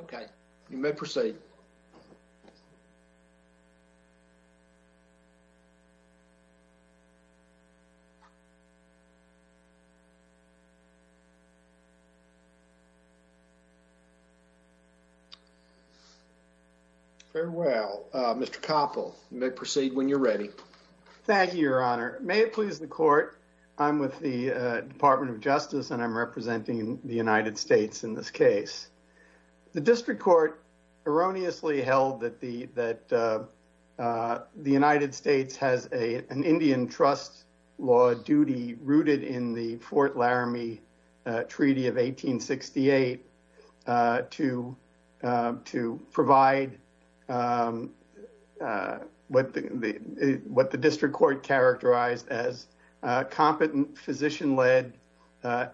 Okay, you may proceed. Farewell, Mr. Koppel. You may proceed when you're ready. Thank you, Your Honor. May it please the court. I'm with the Department of Justice, and I'm The district court erroneously held that the United States has an Indian trust law duty rooted in the Fort Laramie Treaty of 1868 to provide what the district court characterized as competent physician-led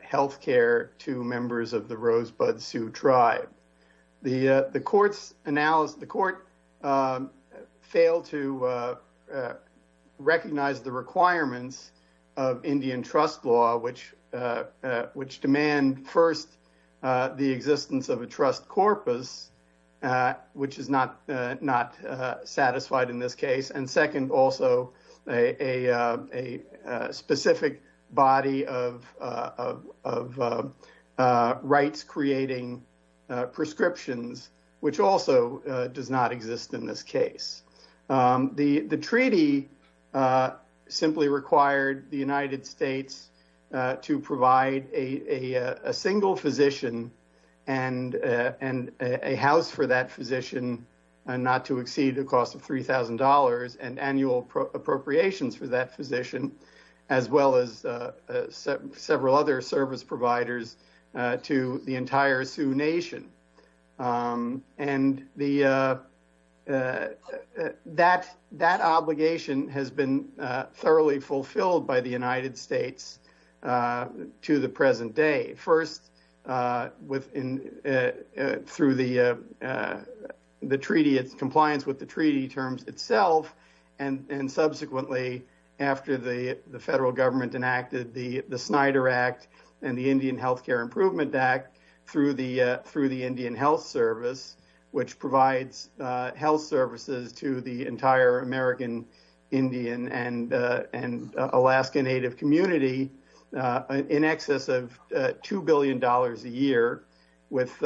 health care to the courts. The court failed to recognize the requirements of Indian trust law, which demand first the existence of a trust corpus, which is not satisfied in this case, and second, also a specific body of rights creating prescriptions, which also does not exist in this case. Um, the treaty simply required the United States to provide a single physician and a house for that physician not to exceed the cost of $3,000 and annual appropriations for that physician, as well as several other service providers to the entire Sioux Nation. And that obligation has been thoroughly fulfilled by the United States to the present day. First, through the treaty, its compliance with the treaty terms itself, and subsequently, after the federal government enacted the Snyder Act and the Indian Health Care Improvement Act through the Indian Health Service, which provides health services to the entire American Indian and Alaska Native community in excess of $2 billion a year with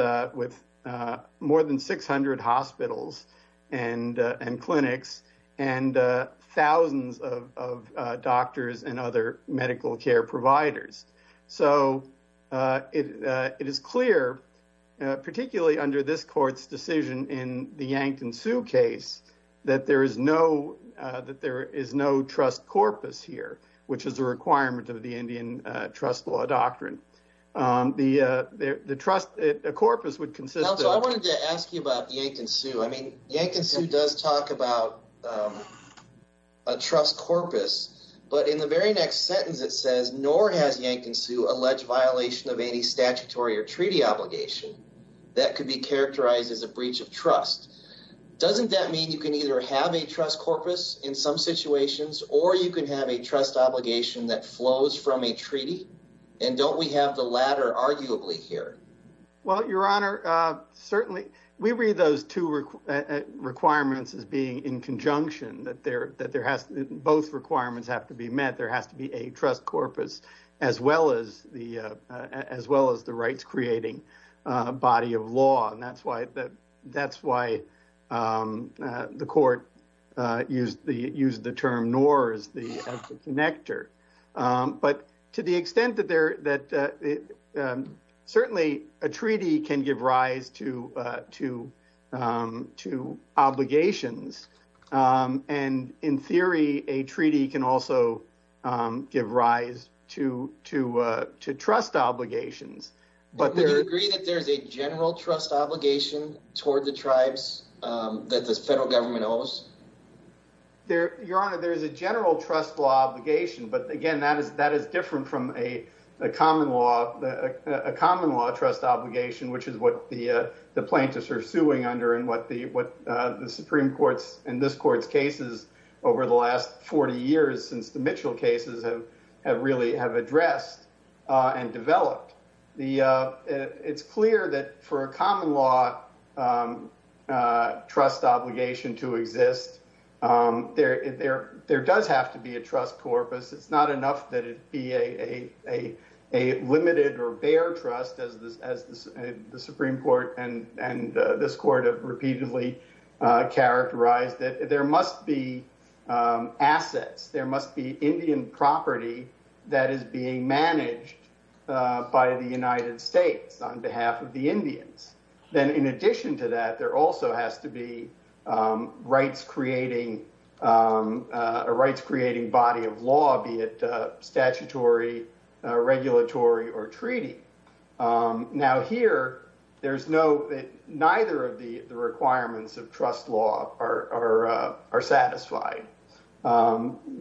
more than 600 hospitals and clinics and thousands of doctors and other medical care providers. So, it is clear, particularly under this court's decision in the Yankton Sioux case, that there is no trust corpus here, which is a requirement of the Indian trust law doctrine. The trust corpus would consist of... Now, so I wanted to ask you about the Yankton Sioux. I mean, Yankton Sioux does talk about a trust corpus, but in the very next sentence, it says, nor has Yankton Sioux alleged violation of any statutory or treaty obligation that could be characterized as a breach of trust. Doesn't that mean you can either have a trust corpus in some situations, or you can have a trust obligation that flows from a treaty? And don't we have the latter arguably here? Well, Your Honor, certainly. We read those two requirements as being in conjunction, that both requirements have to be met. There has to be a trust corpus, as well as the rights-creating body of law, and that's why the court used the term nor as the connector. But to the extent that certainly a treaty can give rise to obligations, and in theory, a treaty can also give rise to trust obligations. But would you agree that there's a general trust obligation toward the tribes that the federal government owes? Your Honor, there is a general trust law obligation, but again, that is different from a common law trust obligation, which is what the plaintiffs are suing under and what the Supreme Court's and this court's cases over the last 40 years since the Mitchell cases have really have addressed and developed. It's clear that for a common law trust obligation to exist, there does have to be a trust corpus. It's not enough that it be a limited or bare trust, as the Supreme Court and this court have repeatedly characterized, that there must be assets, there must be Indian property that is being managed by the Indians. Then in addition to that, there also has to be a rights-creating body of law, be it statutory, regulatory or treaty. Now here, neither of the requirements of trust law are satisfied,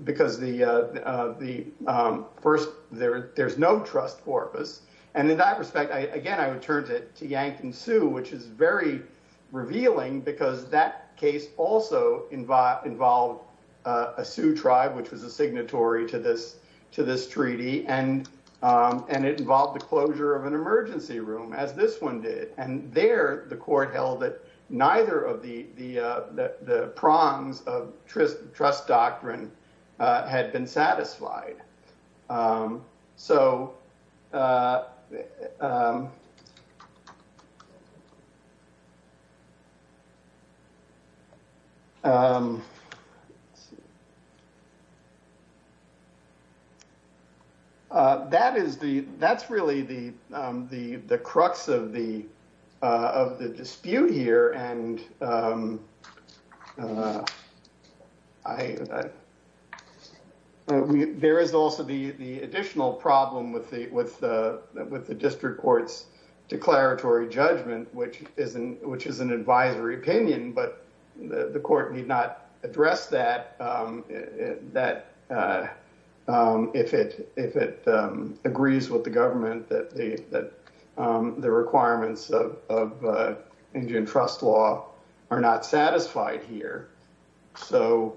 because first, there's no trust corpus. And in that respect, again, I would turn it to Yank and Sue, which is very revealing, because that case also involved a Sioux tribe, which was a signatory to this treaty, and it involved the closure of an emergency room, as this one did. And there, the court held that neither of the prongs of trust doctrine had been satisfied. So, that is the, that's the, there is also the additional problem with the District Court's declaratory judgment, which is an advisory opinion, but the court need not address that, if it agrees with the government that the requirements of Indian trust law are not satisfied here. So,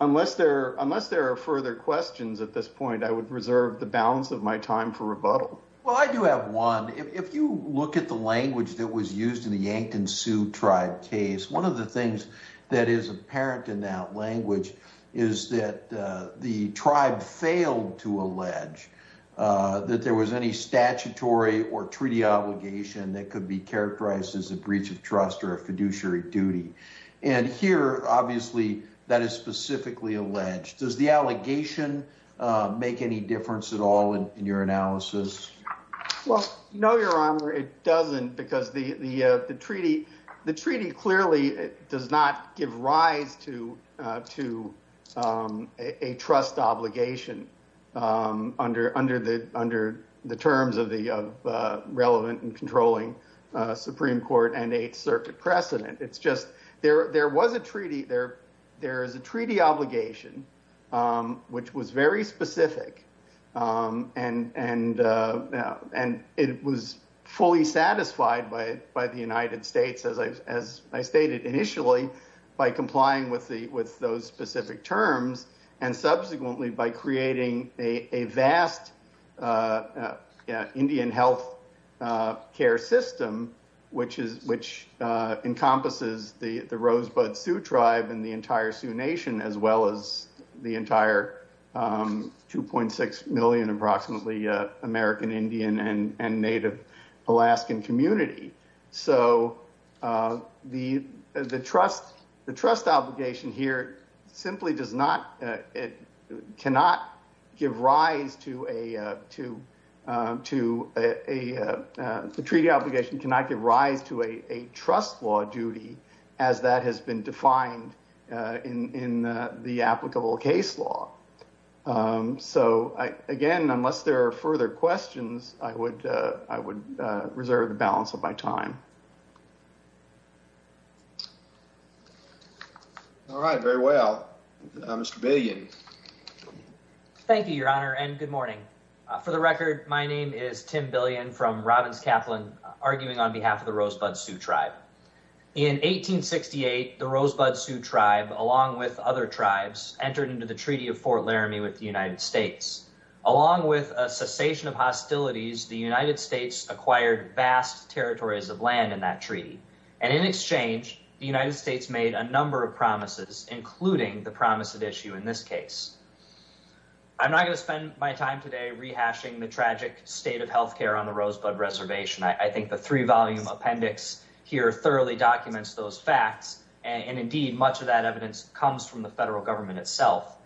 unless there are further questions at this point, I would reserve the balance of my time for rebuttal. Well, I do have one. If you look at the language that was used in the Yank and Sue tribe case, one of the things that is apparent in that language is that the could be characterized as a breach of trust or a fiduciary duty. And here, obviously, that is specifically alleged. Does the allegation make any difference at all in your analysis? Well, no, Your Honor, it doesn't, because the treaty clearly does not give rise to a trust obligation under the terms of the relevant and controlling Supreme Court and Eighth Circuit precedent. It's just, there was a treaty, there is a treaty obligation, which was very specific, and it was fully satisfied by the United States, as I stated initially, by complying with those specific terms, and subsequently by creating a vast Indian health care system, which encompasses the Rosebud Sioux tribe and the entire Sioux Nation, as well as the Sioux Nation. So the trust obligation here simply does not, it cannot give rise to a, the treaty obligation cannot give rise to a trust law duty as that has been defined in the applicable case law. So again, unless there are further questions, I would, I would reserve the balance of my time. All right, very well. Mr. Billion. Thank you, Your Honor, and good morning. For the record, my name is Tim Billion from Robbins Kaplan, arguing on behalf of the Rosebud Sioux tribe. In 1868, the Rosebud Sioux tribe, along with other tribes, entered into the Treaty of Fort Laramie with the United States. Along with a cessation of hostilities, the United States acquired vast territories of land in that treaty. And in exchange, the United States made a number of promises, including the promise of issue in this case. I'm not going to spend my time today rehashing the tragic state of health care on the Rosebud Reservation. I think the three-volume appendix here thoroughly documents those facts, and indeed, much of that evidence comes from the federal government itself.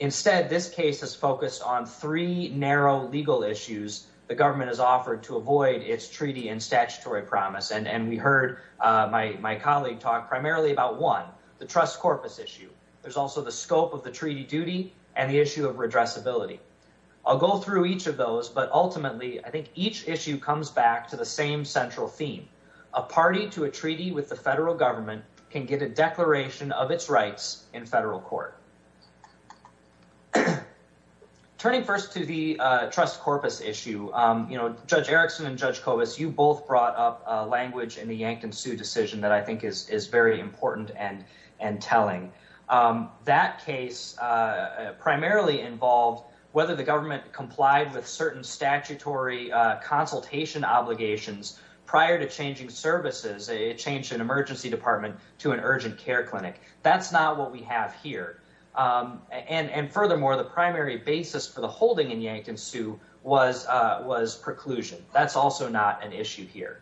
Instead, this case has focused on three narrow legal issues the government has offered to avoid its treaty and statutory promise, and we heard my colleague talk primarily about one, the trust corpus issue. There's also the scope of the treaty duty and the issue of redressability. I'll go through each of those, but ultimately, I think each issue comes back to the same central theme. A party to a treaty with the federal government can get a declaration of its rights in federal court. Turning first to the trust corpus issue, you know, Judge Erickson and Judge Kobus, you both brought up language in the Yankton Sioux decision that I think is very important and telling. That case primarily involved whether the government complied with certain statutory consultation obligations prior to changing services. It changed an emergency department to an urgent care clinic. That's not what we have here, and furthermore, the primary basis for the holding in Yankton Sioux was preclusion. That's also not an issue here.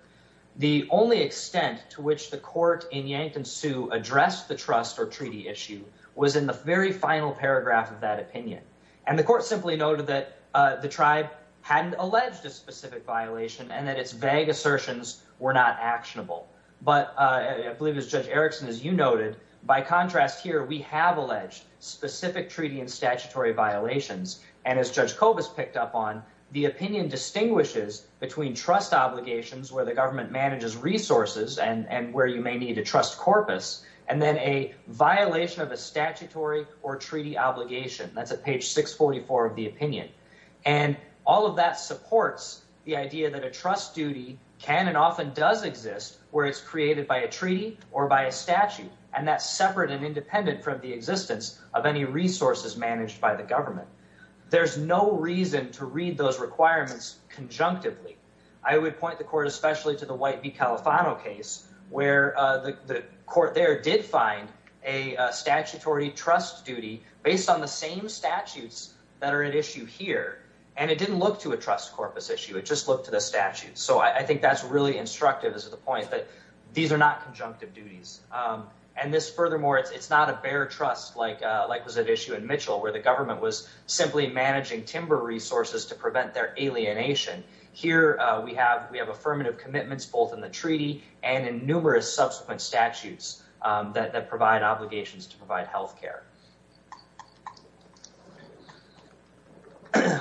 The only extent to which the court in Yankton Sioux addressed the trust or treaty issue was in the very final paragraph of that opinion, and the court simply noted that the tribe hadn't alleged a specific violation and that its vague assertions were not actionable. But I believe, as Judge Erickson, as you noted, by contrast here, we have alleged specific treaty and statutory violations, and as Judge Kobus picked up on, the opinion distinguishes between trust obligations, where the government manages resources and where you may need a trust corpus, and then a violation of a statutory or treaty obligation. That's at page 644 of the opinion, and all of that supports the idea that a trust duty can and often does exist where it's created by a treaty or by a statute, and that's separate and independent from the existence of any resources managed by the government. There's no reason to read those requirements conjunctively. I would point the court especially to the White v. Califano case, where the court there did find a statutory trust duty based on the same statutes that are at issue here, and it didn't look to a trust corpus issue. It just looked to the statutes. So I think that's really instructive as to the point that these are not conjunctive duties. And this, furthermore, it's not a bare trust like was at issue in Mitchell, where the government was simply managing timber resources to prevent their alienation. Here we have affirmative commitments both in the treaty and in numerous subsequent statutes that provide obligations to provide health care.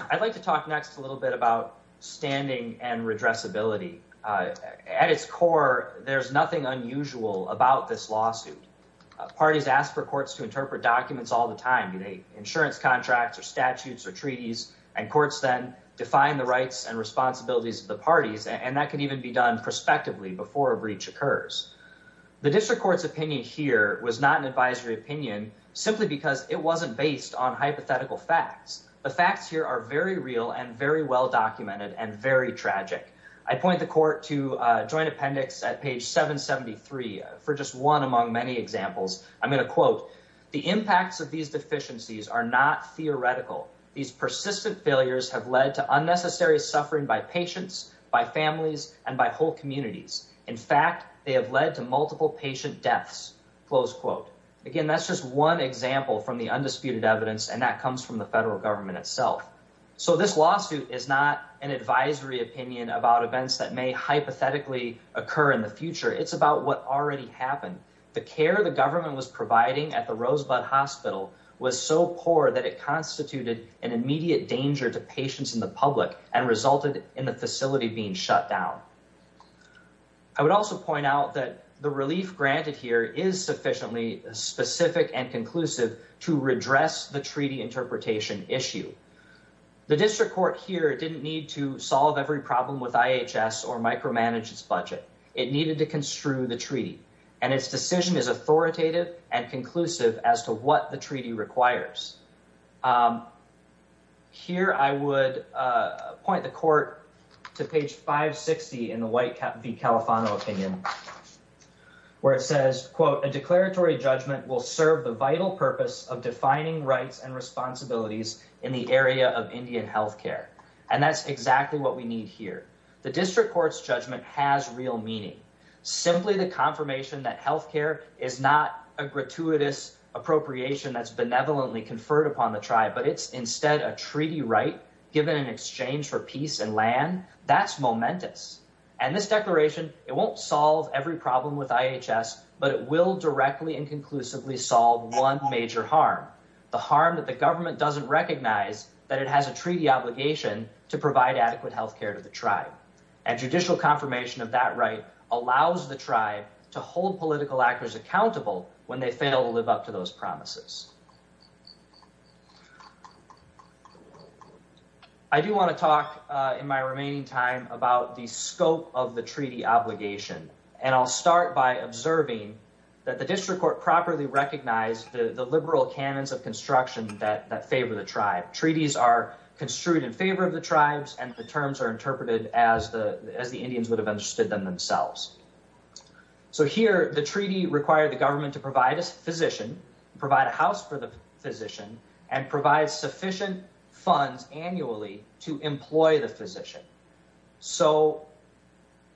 I'd like to talk next a little bit about standing and redressability. At its core, there's nothing unusual about this lawsuit. Parties ask for courts to interpret documents all the time, you know, insurance contracts or statutes or treaties, and courts then define the rights and responsibilities of the parties, and that can even be done prospectively before a breach occurs. The district court's opinion here was not an advisory opinion simply because it very well documented and very tragic. I point the court to Joint Appendix at page 773 for just one among many examples. I'm going to quote, "...the impacts of these deficiencies are not theoretical. These persistent failures have led to unnecessary suffering by patients, by families, and by whole communities. In fact, they have led to multiple patient deaths." Again, that's just one example from the undisputed evidence, and that comes from the federal government itself. So this lawsuit is not an advisory opinion about events that may hypothetically occur in the future. It's about what already happened. The care the government was providing at the Rosebud Hospital was so poor that it constituted an immediate danger to patients in the public and resulted in the facility being shut down. I would also point out that the relief granted here is sufficiently specific and conclusive to redress the treaty interpretation issue. The district court here didn't need to solve every problem with IHS or micromanage its budget. It needed to construe the treaty, and its decision is authoritative and conclusive as to what the treaty requires. Here I would point the court to page 560 in the White v. Califano opinion, where it says, "...a declaratory judgment will serve the vital purpose of defining rights and responsibilities in the area of Indian health care." And that's exactly what we need here. The district court's judgment has real meaning. Simply the confirmation that health care is not a gratuitous appropriation that's benevolently conferred upon the tribe, but it's instead a treaty right given in exchange for peace and land, that's momentous. And this declaration, it won't solve every problem with IHS, but it will directly and conclusively solve one major harm, the harm that the government doesn't recognize that it has a treaty obligation to provide adequate health care to the tribe. And judicial confirmation of that right allows the tribe to hold political actors accountable when they fail to live up to those promises. I do want to talk in my remaining time about the scope of the treaty obligation, and I'll start by observing that the district court properly recognized the liberal canons of construction that favor the tribe. Treaties are construed in favor of the tribes, and the terms are interpreted as the Indians would have understood them themselves. So here, the treaty required the government to provide a physician, provide a house for the physician, and provide sufficient funds annually to employ the physician. So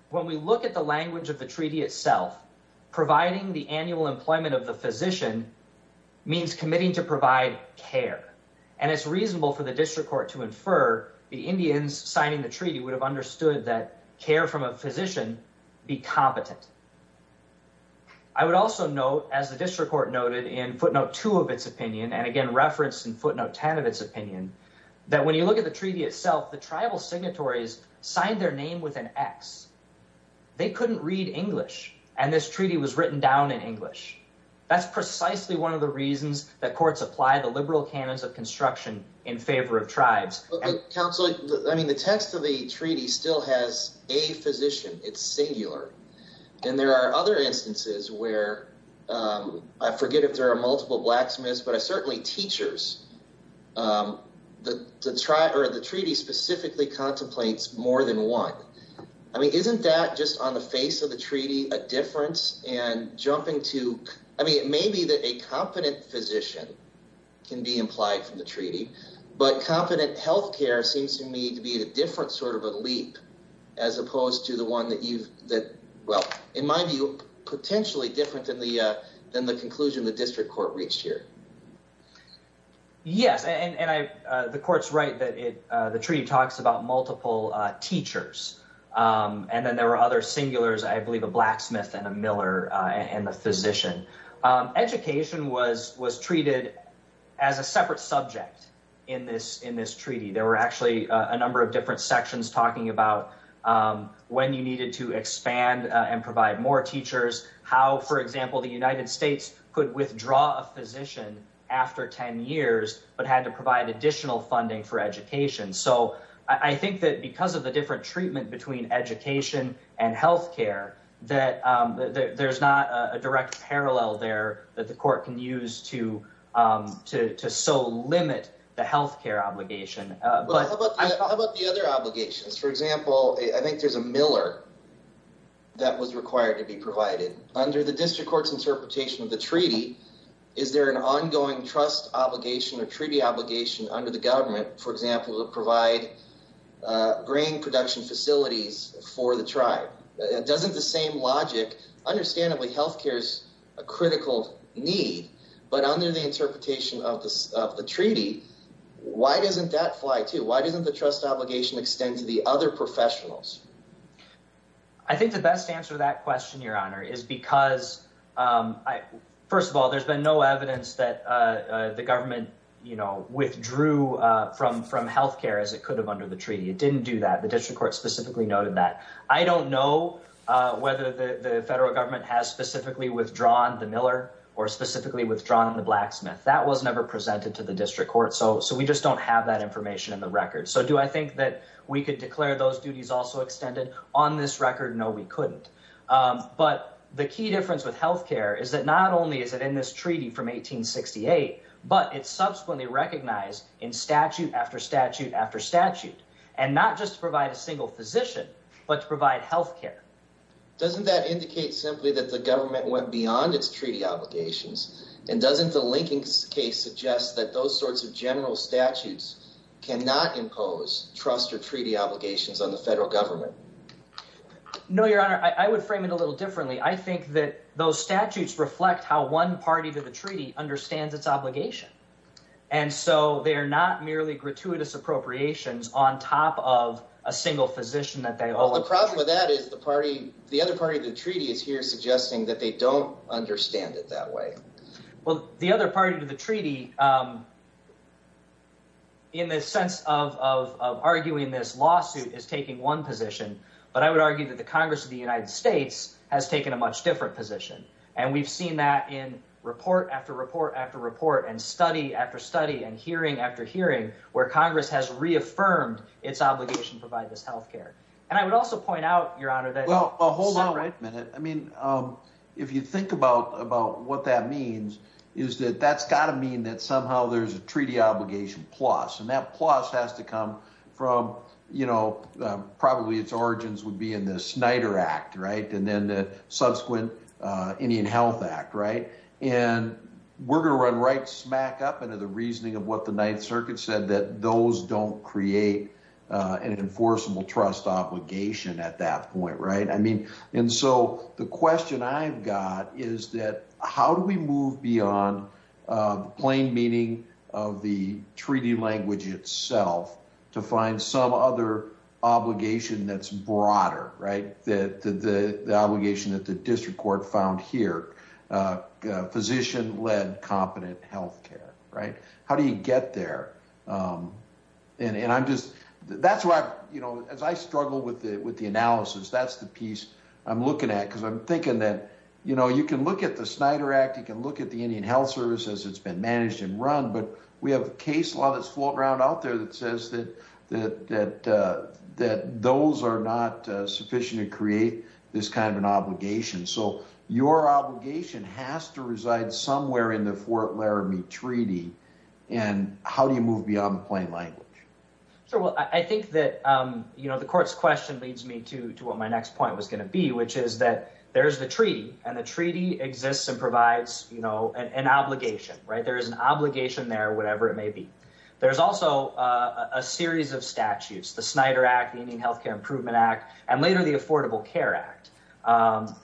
when we look at the language of the treaty itself, providing the annual employment of the physician means committing to provide care. And it's reasonable for the district court to infer the Indians signing the treaty would have understood that care from a physician be competent. I would also note, as the district court noted in footnote two of its opinion, and again referenced in footnote 10 of its opinion, that when you look at the treaty itself, the tribal signatories signed their name with an X. They couldn't read English, and this treaty was written down in English. That's precisely one of the reasons that courts apply the liberal canons of construction in favor of tribes. Counselor, I mean, the text of the treaty still has a physician. It's singular. And there are other instances where, I forget if there are multiple blacksmiths, but certainly teachers, the treaty specifically contemplates more than one. I mean, isn't that just on the face of the treaty a difference? And jumping to, I mean, it may be that a competent physician can be implied from the treaty, but competent health care seems to me to be a different sort of a leap as opposed to the one that you've, that, well, in my view, potentially different than the conclusion the district court reached here. Yes, and the court's right that the treaty talks about multiple teachers. And then there were other singulars, I believe a blacksmith and a miller and the physician. Education was treated as a separate subject in this treaty. There were actually a number of different sections talking about when you needed to expand and provide more teachers, how, for example, the United States could withdraw a physician after 10 years, but had to provide additional funding for education and health care, that there's not a direct parallel there that the court can use to so limit the health care obligation. But how about the other obligations? For example, I think there's a miller that was required to be provided. Under the district court's interpretation of the treaty, is there an ongoing trust obligation or treaty obligation under the government, for example, to provide grain production facilities for the tribe? Doesn't the same logic, understandably health care is a critical need, but under the interpretation of the treaty, why doesn't that fly too? Why doesn't the trust obligation extend to the other professionals? I think the best answer to that question, Your Honor, is because, first of all, there's been no evidence that the government withdrew from health care as it could have under the treaty. It didn't do that. The district court specifically noted that. I don't know whether the federal government has specifically withdrawn the miller or specifically withdrawn the blacksmith. That was never presented to the district court. So we just don't have that information in the record. So do I think that we could declare those duties also extended? On this record, no, we couldn't. But the key difference with health care is that not only is it in this treaty from 1868, but it's subsequently recognized in statute after statute after statute and not just to provide a single physician, but to provide health care. Doesn't that indicate simply that the government went beyond its treaty obligations? And doesn't the linking case suggest that those sorts of general statutes cannot impose trust or treaty obligations on the federal government? No, Your Honor, I would frame it a little differently. I would argue that the Congress of the United States has taken a much different position. And we've seen that in report after report after report and study after study and hearing after hearing where Congress has reaffirmed its obligation to provide this health care. And I would also point out, Your Honor, that... Well, hold on a minute. I mean, if you think about what that means, is that that's got to mean that somehow there's a treaty obligation plus. And that plus has to come from, you know, probably its origins would be in the subsequent Indian Health Act, right? And we're going to run right smack up into the reasoning of what the Ninth Circuit said, that those don't create an enforceable trust obligation at that point, right? I mean, and so the question I've got is that how do we move beyond plain meaning of the treaty language itself to find some other obligation that's broader, right? That the obligation that the district court found here, physician-led competent health care, right? How do you get there? And I'm just... That's why, you know, as I struggle with the analysis, that's the piece I'm looking at, because I'm thinking that, you know, you can look at the Snyder Act, you can look at the Indian Health Service as it's been managed and run, but we have a case law that's floating around out there that says that those are not sufficient to find an obligation. So your obligation has to reside somewhere in the Fort Laramie Treaty, and how do you move beyond plain language? Sure. Well, I think that, you know, the court's question leads me to what my next point was going to be, which is that there's the treaty, and the treaty exists and provides, you know, an obligation, right? There is an obligation there, whatever it may be. There's also a series of statutes, the Snyder Act, the Indian Health Care Improvement Act, and later the Affordable Care Act,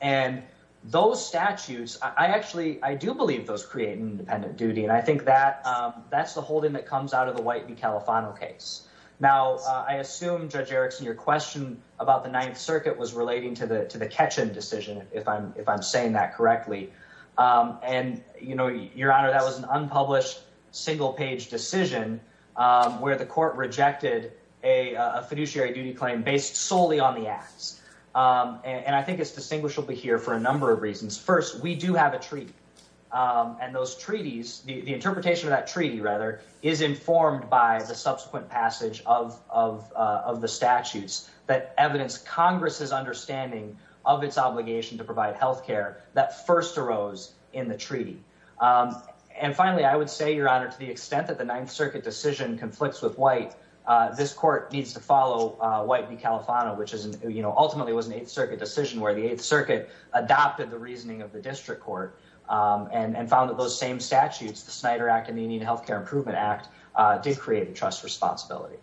and those statutes, I actually, I do believe those create an independent duty, and I think that that's the holding that comes out of the White v. Califano case. Now, I assume, Judge Erickson, your question about the Ninth Circuit was relating to the Ketchum decision, if I'm saying that correctly, and, you know, Your Honor, that was an unpublished, single-page decision where the court rejected a fiduciary duty claim based solely on the acts, and I think it's distinguishable here for a number of reasons. First, we do have a treaty, and those treaties, the interpretation of that treaty, rather, is informed by the subsequent passage of the statutes that evidence Congress's understanding of its obligation to provide health care that first arose in the treaty, and finally, I would say, Your Honor, to the extent that the Ninth Circuit decision conflicts with White, this court needs to follow White v. Califano, which is, you know, ultimately was an Eighth Circuit decision where the Eighth Circuit adopted the reasoning of the District Court and found that those same statutes, the Snyder Act and the Indian Health Care Improvement Act, did create a trust responsibility.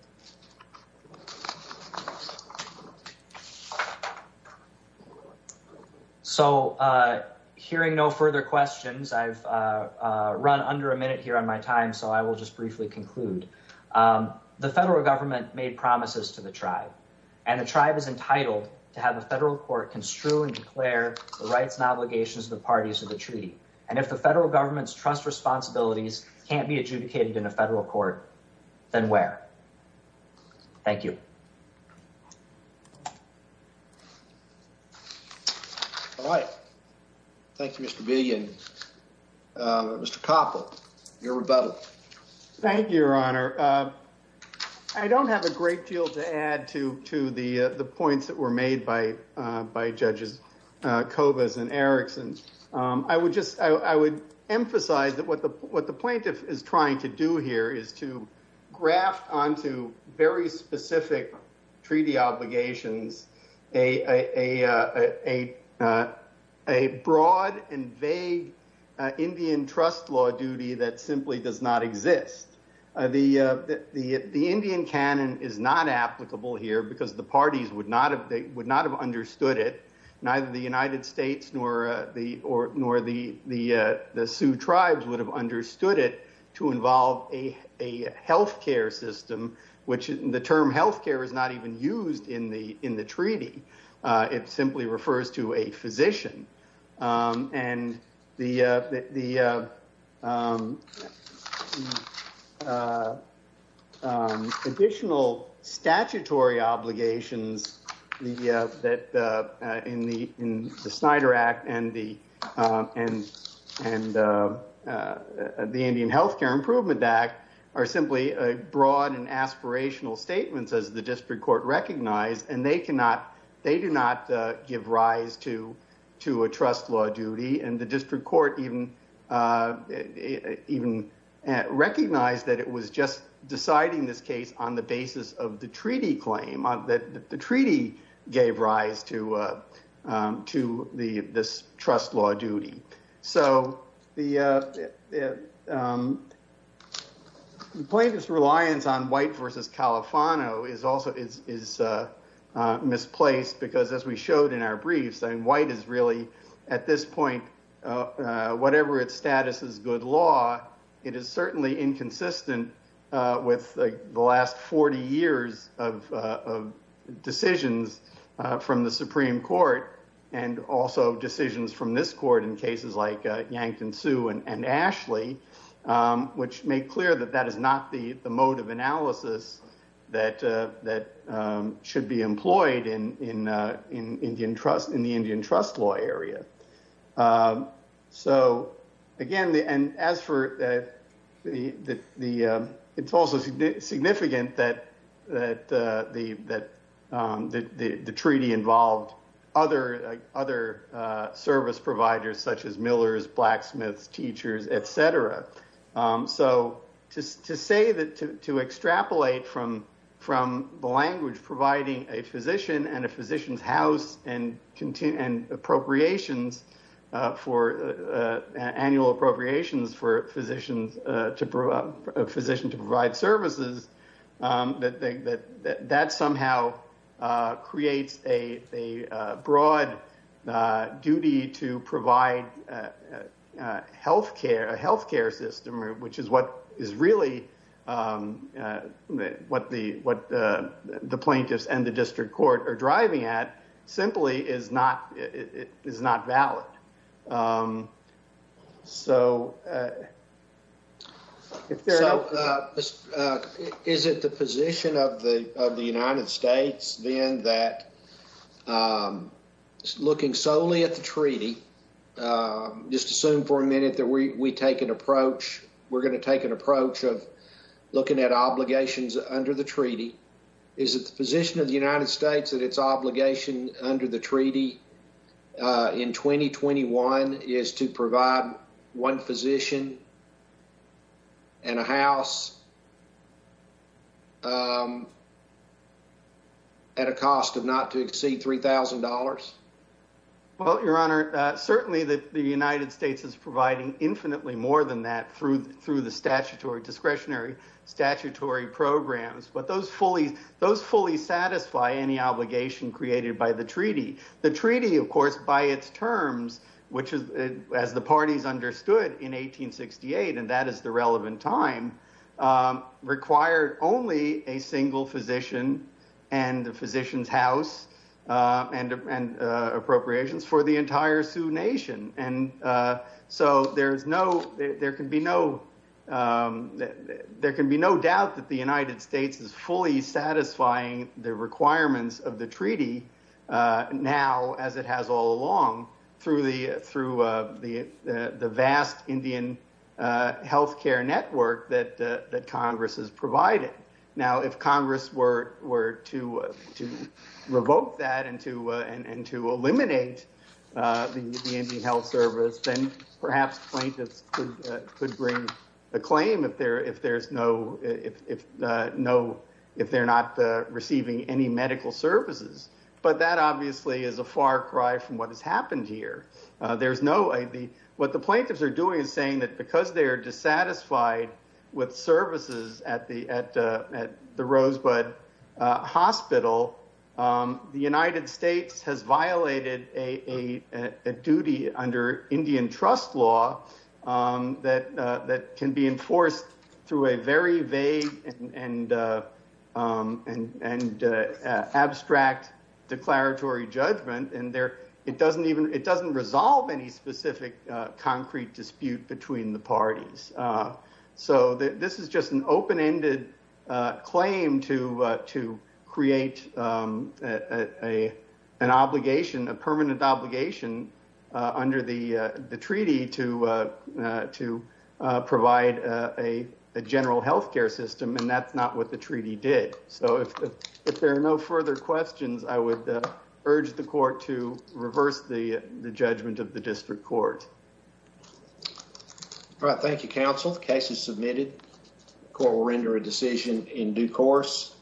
So, hearing no further questions, I've run under a minute here on my time, so I will just briefly conclude. The federal government made promises to the tribe, and the tribe is entitled to have the federal court construe and declare the rights and obligations of the parties of the treaty, and if the federal government's trust responsibilities can't be adjudicated in a federal court, then where? Thank you. All right. Thank you, Mr. Billion. Mr. Koppel, your rebuttal. Thank you, Your Honor. I don't have a great deal to add to the points that were made by Judges Cobas and Erickson. I would emphasize that what the plaintiff is trying to do here is to graft onto very specific treaty obligations a broad and vague Indian trust law duty that simply does not exist. The Indian canon is not applicable here because the parties would not have understood it, neither the United States nor the Sioux tribes would have understood it to involve a health care system, which the term health care is not even used in the treaty. It simply refers to a physician, and the additional statutory obligations in the Snyder Act and the Indian Health Care Improvement Act are simply broad and aspirational statements, as the district court recognized, and they do not give rise to a trust law duty. The district court even recognized that it was just gave rise to this trust law duty. So the plaintiff's reliance on White versus Califano is misplaced because, as we showed in our briefs, White is really, at this point, whatever its status as good law, it is certainly inconsistent with the last 40 years of decisions from the Supreme Court and also decisions from this court in cases like Yankton Sioux and Ashley, which make clear that that is not the mode of analysis that should be employed in the Indian trust law area. So, again, and as for the, it's also significant that the treaty involved other service providers such as millers, blacksmiths, teachers, etc. So to say that, to extrapolate from the language providing a physician and a physician's house and appropriations, annual appropriations for a physician to provide services, that somehow creates a broad duty to provide healthcare, a healthcare system, which is what is really what the plaintiffs and the district court are driving at simply is not valid. Is it the position of the United States then that, looking solely at the treaty, just assume for a minute that we take an approach, we're going to take an approach of looking at obligations under the treaty, is it the position of the United States that its obligation under the treaty in 2021 is to provide one physician and a house at a cost of not to exceed $3,000? Well, your honor, certainly the United States is providing infinitely more than that through the statutory discretionary statutory programs, but those fully satisfy any obligation created by the treaty. The treaty, of course, by its terms, which is as the parties understood in 1868, and that is the relevant time, required only a single physician and the physician's house and appropriations for the entire Sioux nation. There can be no doubt that the United States is fully satisfying the requirements of the treaty now as it has all along through the vast Indian healthcare network that Congress has provided. Now, if Congress were to revoke that and to eliminate the Indian health service, then perhaps plaintiffs could bring a claim if they're not receiving any medical services but that obviously is a far cry from what has happened here. What the plaintiffs are doing is saying that because they are dissatisfied with services at the Rosebud Hospital, the United States has violated a duty under Indian trust law that can be enforced through a very vague and abstract declaratory judgment and it doesn't resolve any specific concrete dispute between the parties. This is just an open-ended claim to create an obligation, a permanent obligation, under the treaty to provide a general healthcare system and that's not what the treaty did. So if there are no further questions, I would urge the court to reverse the judgment of the district court. All right, thank you, counsel. The case is submitted. The court will render a decision in due course.